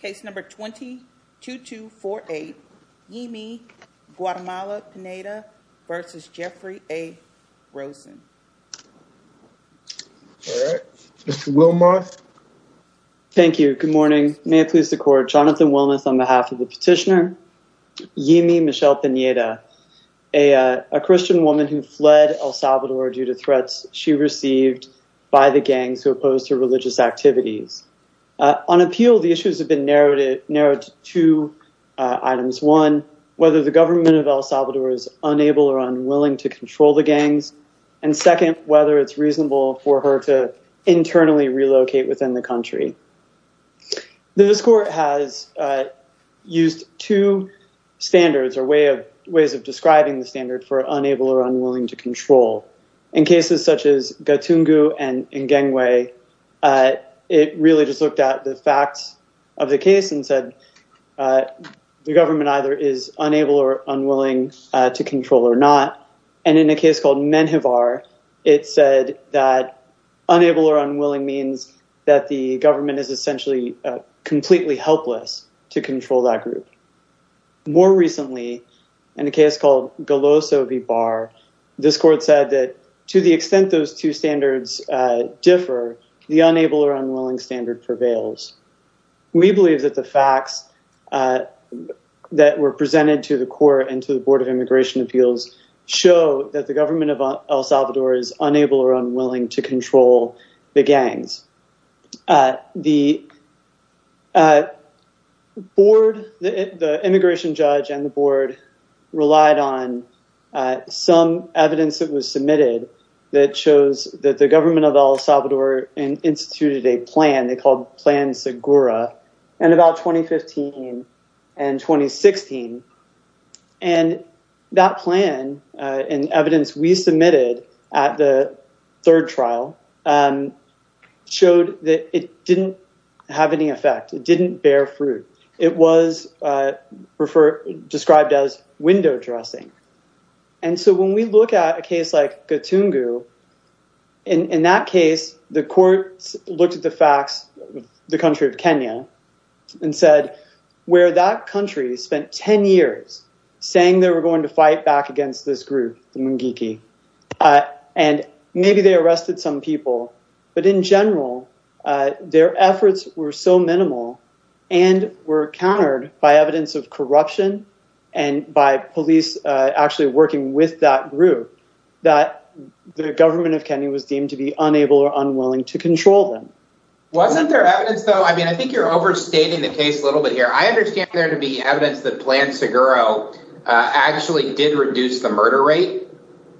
Case number 22248 Yeemy Guatemala-Pineda v. Jeffrey A. Rosen. All right, Mr. Wilmoth. Thank you. Good morning. May it please the court, Jonathan Wilmoth on behalf of the petitioner, Yeemy Michelle-Pineda, a Christian woman who fled El Salvador due to threats she received by the gangs who opposed her religious activities. On appeal, the issues have been narrowed to two items. One, whether the government of El Salvador is unable or unwilling to control the gangs. And second, whether it's reasonable for her to internally relocate within the country. This court has used two standards or ways of describing the standard for unable or unwilling to control. In cases such as Gatungu and Ngengwe, it really just looked at the facts of the case and said the government either is unable or unwilling to control or not. And in a case called Menjivar, it said that unable or unwilling means that the government is essentially completely helpless to control that group. More recently, in a case called Goloso v. Bar, this court said that to the extent those two standards differ, the unable or unwilling standard prevails. We believe that the facts that were presented to the court and to the Board of Immigration Appeals show that the government of El Salvador is unable or unwilling to control the gangs. The immigration judge and the board relied on some evidence that was submitted that shows the government of El Salvador instituted a plan. They called Plan Segura in about 2015 and 2016. And that plan and evidence we submitted at the third trial showed that it didn't have any effect. It didn't bear fruit. It was described as window dressing. And so when we look at a case like Batungu, in that case, the courts looked at the facts of the country of Kenya and said, where that country spent 10 years saying they were going to fight back against this group, the Mungiki, and maybe they arrested some people, but in general, their efforts were so minimal and were countered by evidence of corruption and by police actually working with that group, that the government of Kenya was deemed to be unable or unwilling to control them. Wasn't there evidence, though? I mean, I think you're overstating the case a little bit here. I understand there to be evidence that Plan Segura actually did reduce the murder rate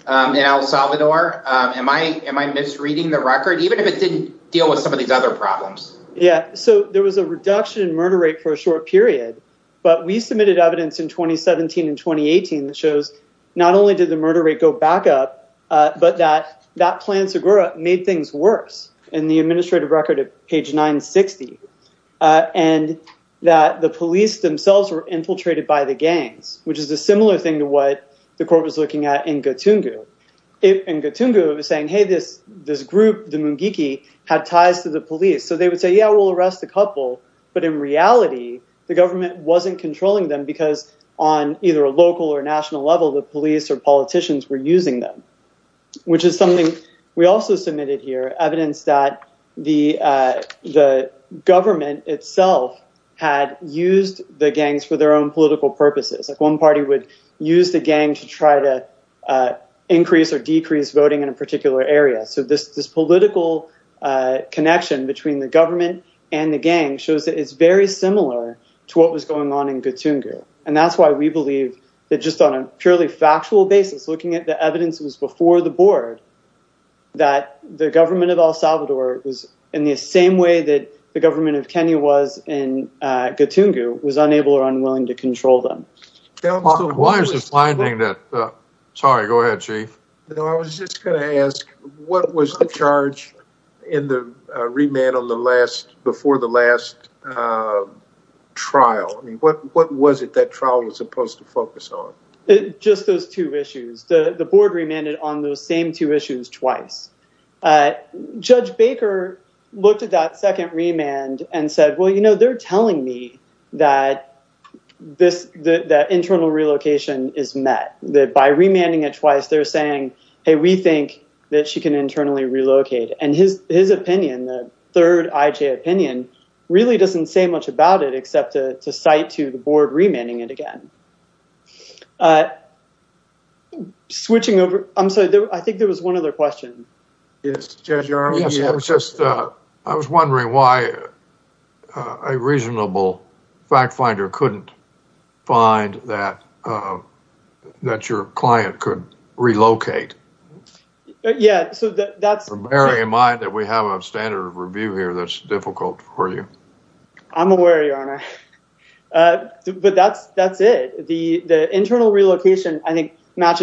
in El Salvador. Am I misreading the record, even if it didn't deal with some of these other problems? Yeah. So there was a reduction in murder rate for a short period. But we submitted evidence in 2017 and 2018 that shows not only did the murder rate go back up, but that Plan Segura made things worse in the administrative record at page 960, and that the police themselves were infiltrated by the gangs, which is a similar thing to what the court was looking at in Batungu. And Batungu was saying, hey, this group, the Mungiki, had ties to the police. So they would say, yeah, we'll arrest the couple. But in reality, the government wasn't controlling them because on either a local or national level, the police or politicians were using them, which is something we also submitted here, evidence that the government itself had used the gangs for their own political purposes. One party would use the gang to try to increase or connection between the government and the gang shows that it's very similar to what was going on in Batungu. And that's why we believe that just on a purely factual basis, looking at the evidence that was before the board, that the government of El Salvador was in the same way that the government of Kenya was in Batungu, was unable or unwilling to control them. I was just going to ask, what was the charge in the remand before the last trial? What was it that trial was supposed to focus on? Just those two issues. The board remanded on those same two issues twice. Judge Baker looked at that second remand and said, well, they're telling me that internal relocation is met, that by remanding it twice, they're saying, hey, we think that she can internally relocate. And his opinion, the third IJ opinion, really doesn't say much about it except to cite to the board remanding it again. I'm sorry, I think there was one other question. Judge, I was wondering why a reasonable fact finder couldn't find that your client could relocate. Bearing in mind that we have a standard of review here that's difficult for you. I'm aware, Your Honor. But that's it. The internal relocation, I think, what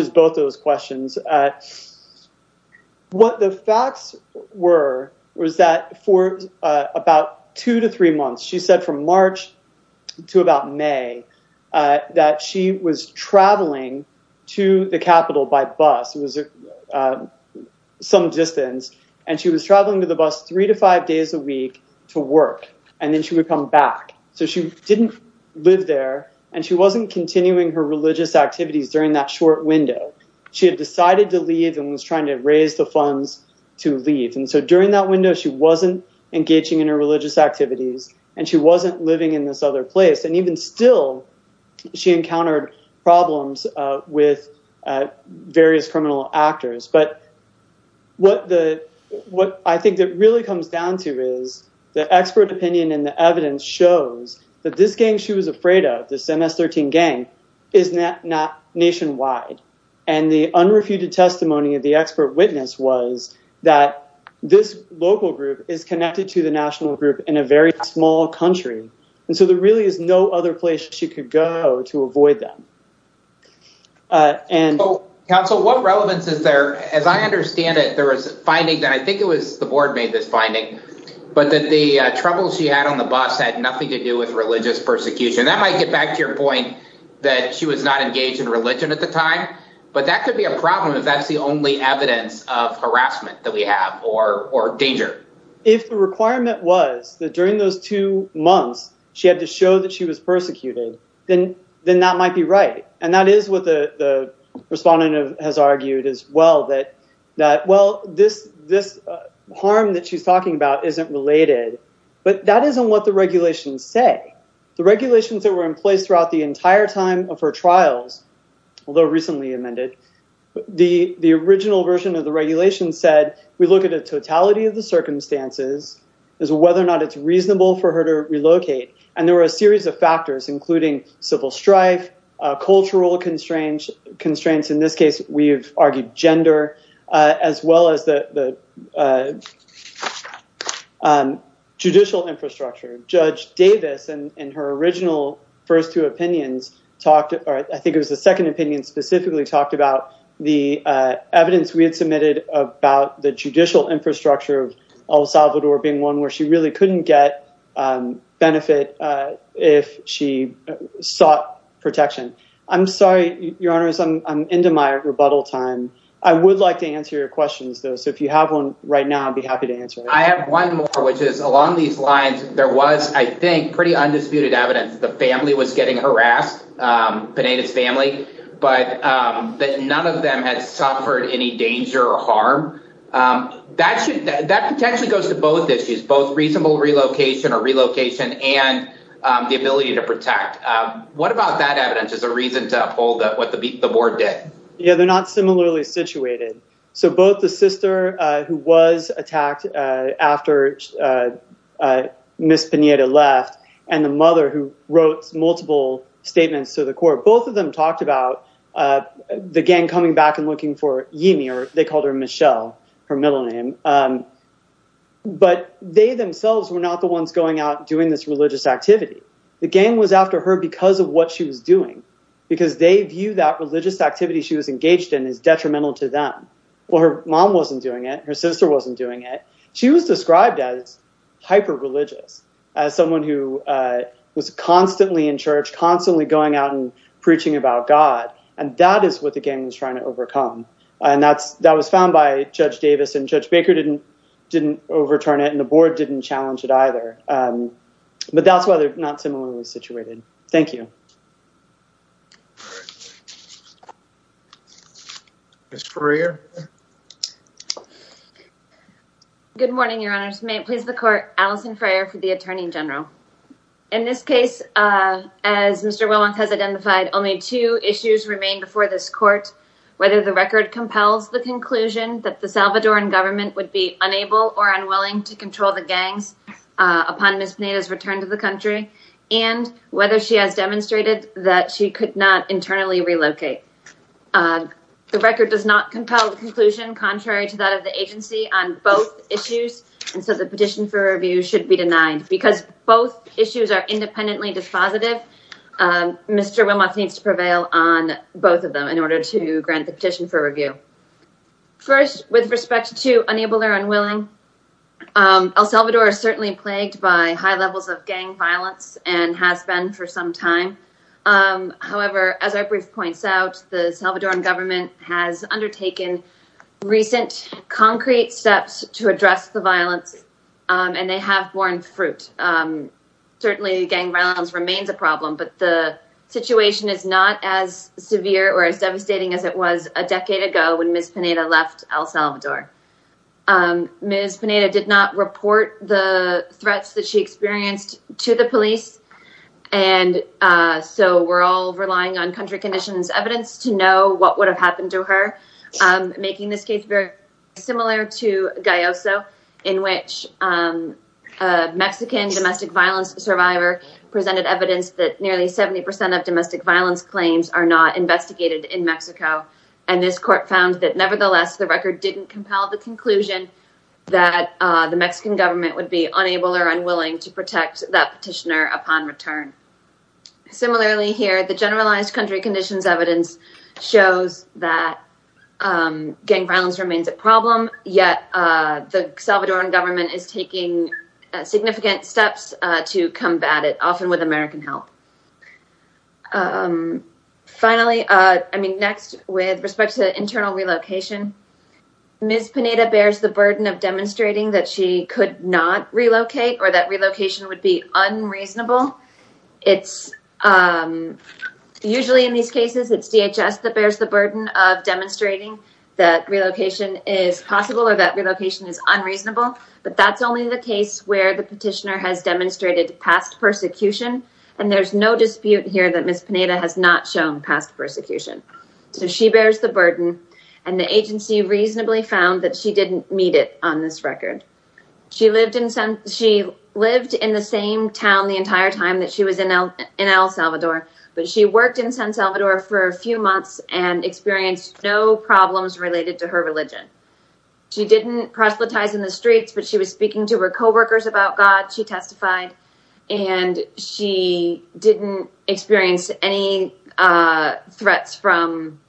the facts were, was that for about two to three months, she said from March to about May, that she was traveling to the Capitol by bus. It was some distance. And she was traveling to the bus three to five days a week to work. And then she would come back. So she didn't live there. And she wasn't continuing her religious activities during that short window. She had decided to leave and was trying to raise the funds to leave. And so during that window, she wasn't engaging in her religious activities. And she wasn't living in this other place. And even still, she encountered problems with various criminal actors. But what I think it really comes down to is the expert opinion and the evidence shows that this gang she was afraid of, this nationwide. And the unrefuted testimony of the expert witness was that this local group is connected to the national group in a very small country. And so there really is no other place she could go to avoid that. And so what relevance is there? As I understand it, there was finding that I think it was the board made this finding, but that the trouble she had on the bus had nothing to do with religious persecution. That might get back to your point that she was not engaged in religion at the time. But that could be a problem if that's the only evidence of harassment that we have or danger. If the requirement was that during those two months, she had to show that she was persecuted, then that might be right. And that is what the respondent has argued as well that, well, this harm that she's talking about isn't related. But that isn't what the regulations say. The regulations that were in place throughout the although recently amended. The original version of the regulations said, we look at a totality of the circumstances as whether or not it's reasonable for her to relocate. And there were a series of factors, including civil strife, cultural constraints. In this case, we've argued gender as well as the judicial infrastructure. Judge Davis, in her original first two opinions, talked or I think it was the second opinion specifically talked about the evidence we had submitted about the judicial infrastructure of El Salvador being one where she really couldn't get benefit if she sought protection. I'm sorry, Your Honor, I'm into my rebuttal time. I would like to answer your questions, though. So if you have one right now, I'd be happy to answer. I have one more, which is along these lines, there was, I think, pretty undisputed evidence that the family was getting harassed, Pineda's family, but that none of them had suffered any danger or harm. That potentially goes to both issues, both reasonable relocation or relocation and the ability to protect. What about that evidence as a reason to uphold what the board did? Yeah, they're not similarly situated. So both the sister who was attacked after Miss Pineda left and the mother who wrote multiple statements to the court, both of them talked about the gang coming back and looking for Yemi, or they called her Michelle, her middle name. But they themselves were not the ones going out doing this religious activity. The gang was after her because of what she was doing, because they view that religious activity she was engaged in as detrimental to them. Well, her mom wasn't doing it, her sister wasn't doing it. She was described as hyper-religious, as someone who was constantly in church, constantly going out and preaching about God. And that is what the gang was trying to overcome. And that was found by Judge Davis, and Judge Baker didn't overturn it, and the board didn't challenge it Ms. Freer? Good morning, Your Honors. May it please the court, Allison Freer for the Attorney General. In this case, as Mr. Wilmoth has identified, only two issues remain before this court, whether the record compels the conclusion that the Salvadoran government would be unable or unwilling to control the gangs upon Miss Pineda's return to the country, and whether she has demonstrated that she could not internally relocate. The record does not compel the conclusion, contrary to that of the agency, on both issues, and so the petition for review should be denied. Because both issues are independently dispositive, Mr. Wilmoth needs to prevail on both of them in order to grant the petition for review. First, with respect to unable or unwilling, El Salvador is certainly plagued by high levels of and has been for some time. However, as our brief points out, the Salvadoran government has undertaken recent concrete steps to address the violence, and they have borne fruit. Certainly gang violence remains a problem, but the situation is not as severe or as devastating as it was a decade ago when Miss Pineda left El Salvador. Miss Pineda did not report the and so we're all relying on country conditions evidence to know what would have happened to her, making this case very similar to Gayoso, in which a Mexican domestic violence survivor presented evidence that nearly 70% of domestic violence claims are not investigated in Mexico, and this court found that nevertheless the record didn't compel the conclusion that the Mexican government would be unable or unwilling to protect that petitioner upon return. Similarly here, the generalized country conditions evidence shows that gang violence remains a problem, yet the Salvadoran government is taking significant steps to combat it, often with American help. Finally, I mean next, with respect to internal relocation, Miss Pineda bears the burden of demonstrating that she could not relocate or that relocation would be unreasonable. It's usually in these cases it's DHS that bears the burden of demonstrating that relocation is possible or that relocation is unreasonable, but that's only the case where the petitioner has demonstrated past persecution, and there's no dispute here that Miss Pineda has shown past persecution. So she bears the burden, and the agency reasonably found that she didn't meet it on this record. She lived in the same town the entire time that she was in El Salvador, but she worked in San Salvador for a few months and experienced no problems related to her religion. She didn't proselytize in the streets, but she was speaking to her co-workers about God, she testified, and she didn't experience any threats from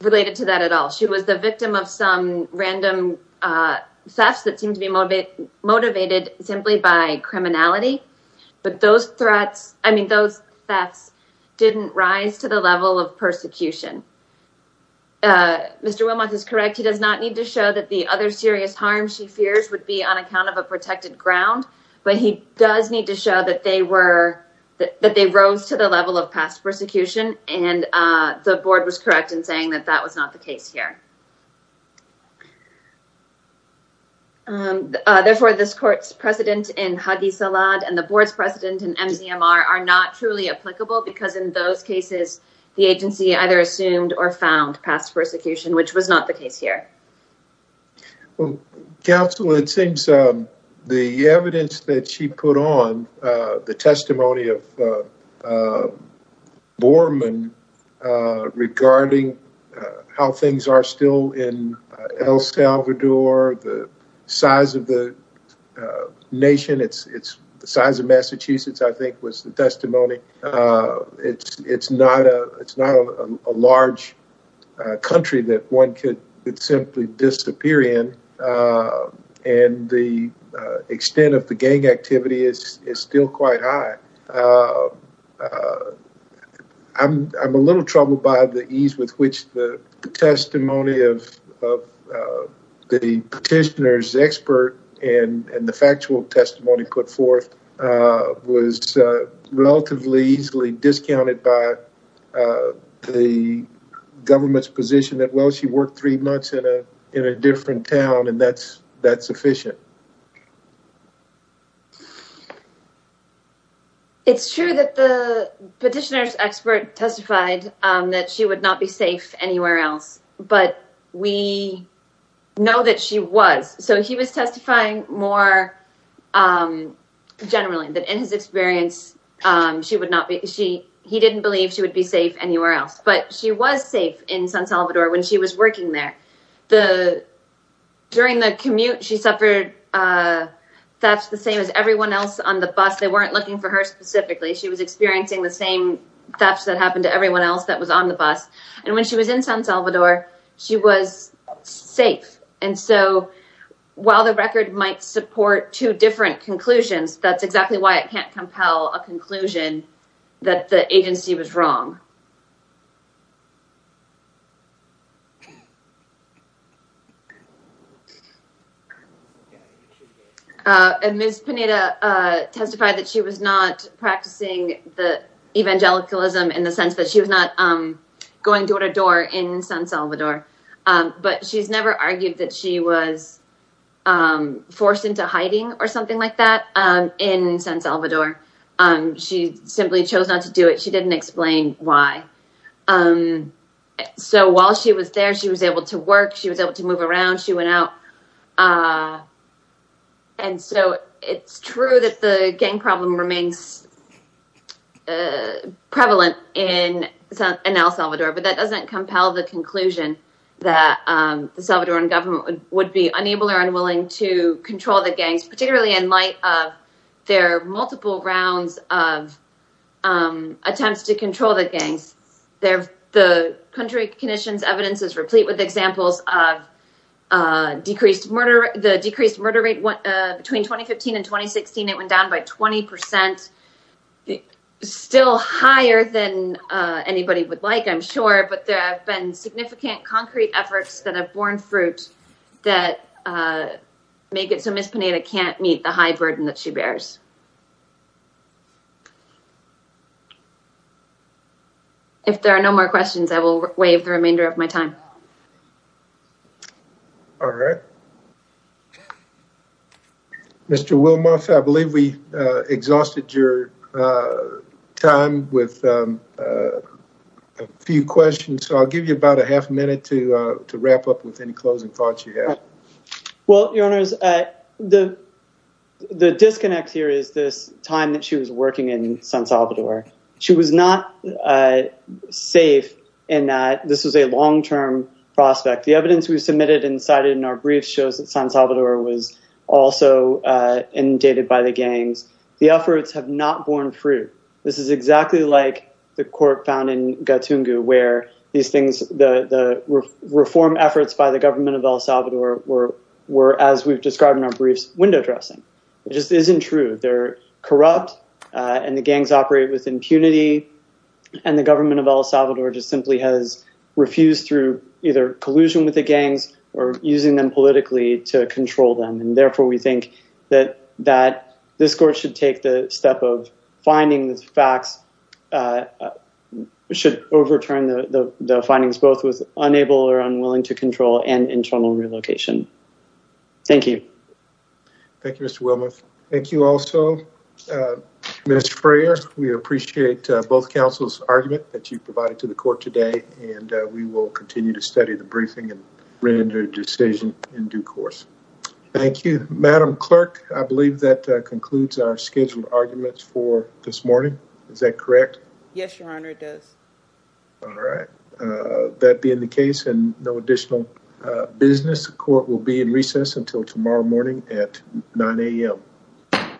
related to that at all. She was the victim of some random thefts that seemed to be motivated simply by criminality, but those threats, I mean those thefts, didn't rise to the level of persecution. Mr. Wilmoth is correct. He does not need to show that the other serious harm she fears would be on account of a protected ground, but he does need to show that they rose to the level of past persecution, and the board was correct in saying that that was not the case here. Therefore, this court's precedent in Hagi Salad and the board's precedent in MCMR are not truly applicable because in those cases, the agency either assumed or found past persecution, which was not the case here. Well, counsel, it seems the evidence that she put on, the testimony of Borman regarding how things are still in El Salvador, the size of the nation, the size of Massachusetts, I think, was the testimony. It's not a large country that one could simply disappear in, and the extent of the gang activity is still quite high. I'm a little troubled by the ease with which the testimony of the petitioner's expert and the factual testimony put forth was relatively easily discounted by the government's position that, well, she worked three months in a different town, and that's sufficient. It's true that the petitioner's expert testified that she would not be safe anywhere else, but we know that she was, so he was testifying more generally, that in his experience, he didn't believe she would be safe anywhere else, but she was safe in San Salvador when she was working there. During the commute, she suffered thefts the same as everyone else on the bus. They weren't looking for her specifically. She was experiencing the same thefts that happened to her. She was safe. And so, while the record might support two different conclusions, that's exactly why it can't compel a conclusion that the agency was wrong. And Ms. Pineda testified that she was not practicing the evangelicalism in the sense that she was not going door to door in San Salvador, but she's never argued that she was forced into hiding or something like that in San Salvador. She simply chose not to do it. She didn't explain why. So, while she was there, she was able to work. She was able to move around. She went out. And so, it's true that the gang problem remains prevalent in El Salvador, but that doesn't compel the conclusion that the Salvadoran government would be unable or unwilling to control the gangs, particularly in light of their multiple rounds of attempts to control the decreased murder rate. Between 2015 and 2016, it went down by 20%. Still higher than anybody would like, I'm sure, but there have been significant concrete efforts that have borne fruit that make it so Ms. Pineda can't meet the high burden that she bears. If there are no more questions, I will waive the remainder of my time. All right. Mr. Wilmoth, I believe we exhausted your time with a few questions, so I'll give you about a half a minute to wrap up with any closing thoughts you have. Well, Your Honors, the disconnect here is this time that she was working in San Salvador. She was not safe in that this was a long-term prospect. The evidence we submitted and cited in our briefs shows that San Salvador was also inundated by the gangs. The efforts have not borne fruit. This is exactly like the court found in Gatungu, where the reform efforts by the government of El Salvador were, as we've described in our briefs, window dressing. It just isn't true. They're corrupt, and the gangs operate with impunity, and the government of El Salvador just simply has refused through either collusion with the gangs or using them politically to control them. Therefore, we think that this court should take the step of finding the facts, should overturn the findings, both with unable or unwilling to control and internal relocation. Thank you. Thank you, Mr. Willmuth. Thank you also, Mr. Frayer. We appreciate both counsel's argument that you provided to the court today, and we will continue to study the briefing and render a decision in due course. Thank you. Madam Clerk, I believe that concludes our scheduled arguments for this morning. Is that correct? Yes, Your Honor, it does. All right. That being the case, and no additional business, the court will be in recess until tomorrow morning at 9 a.m.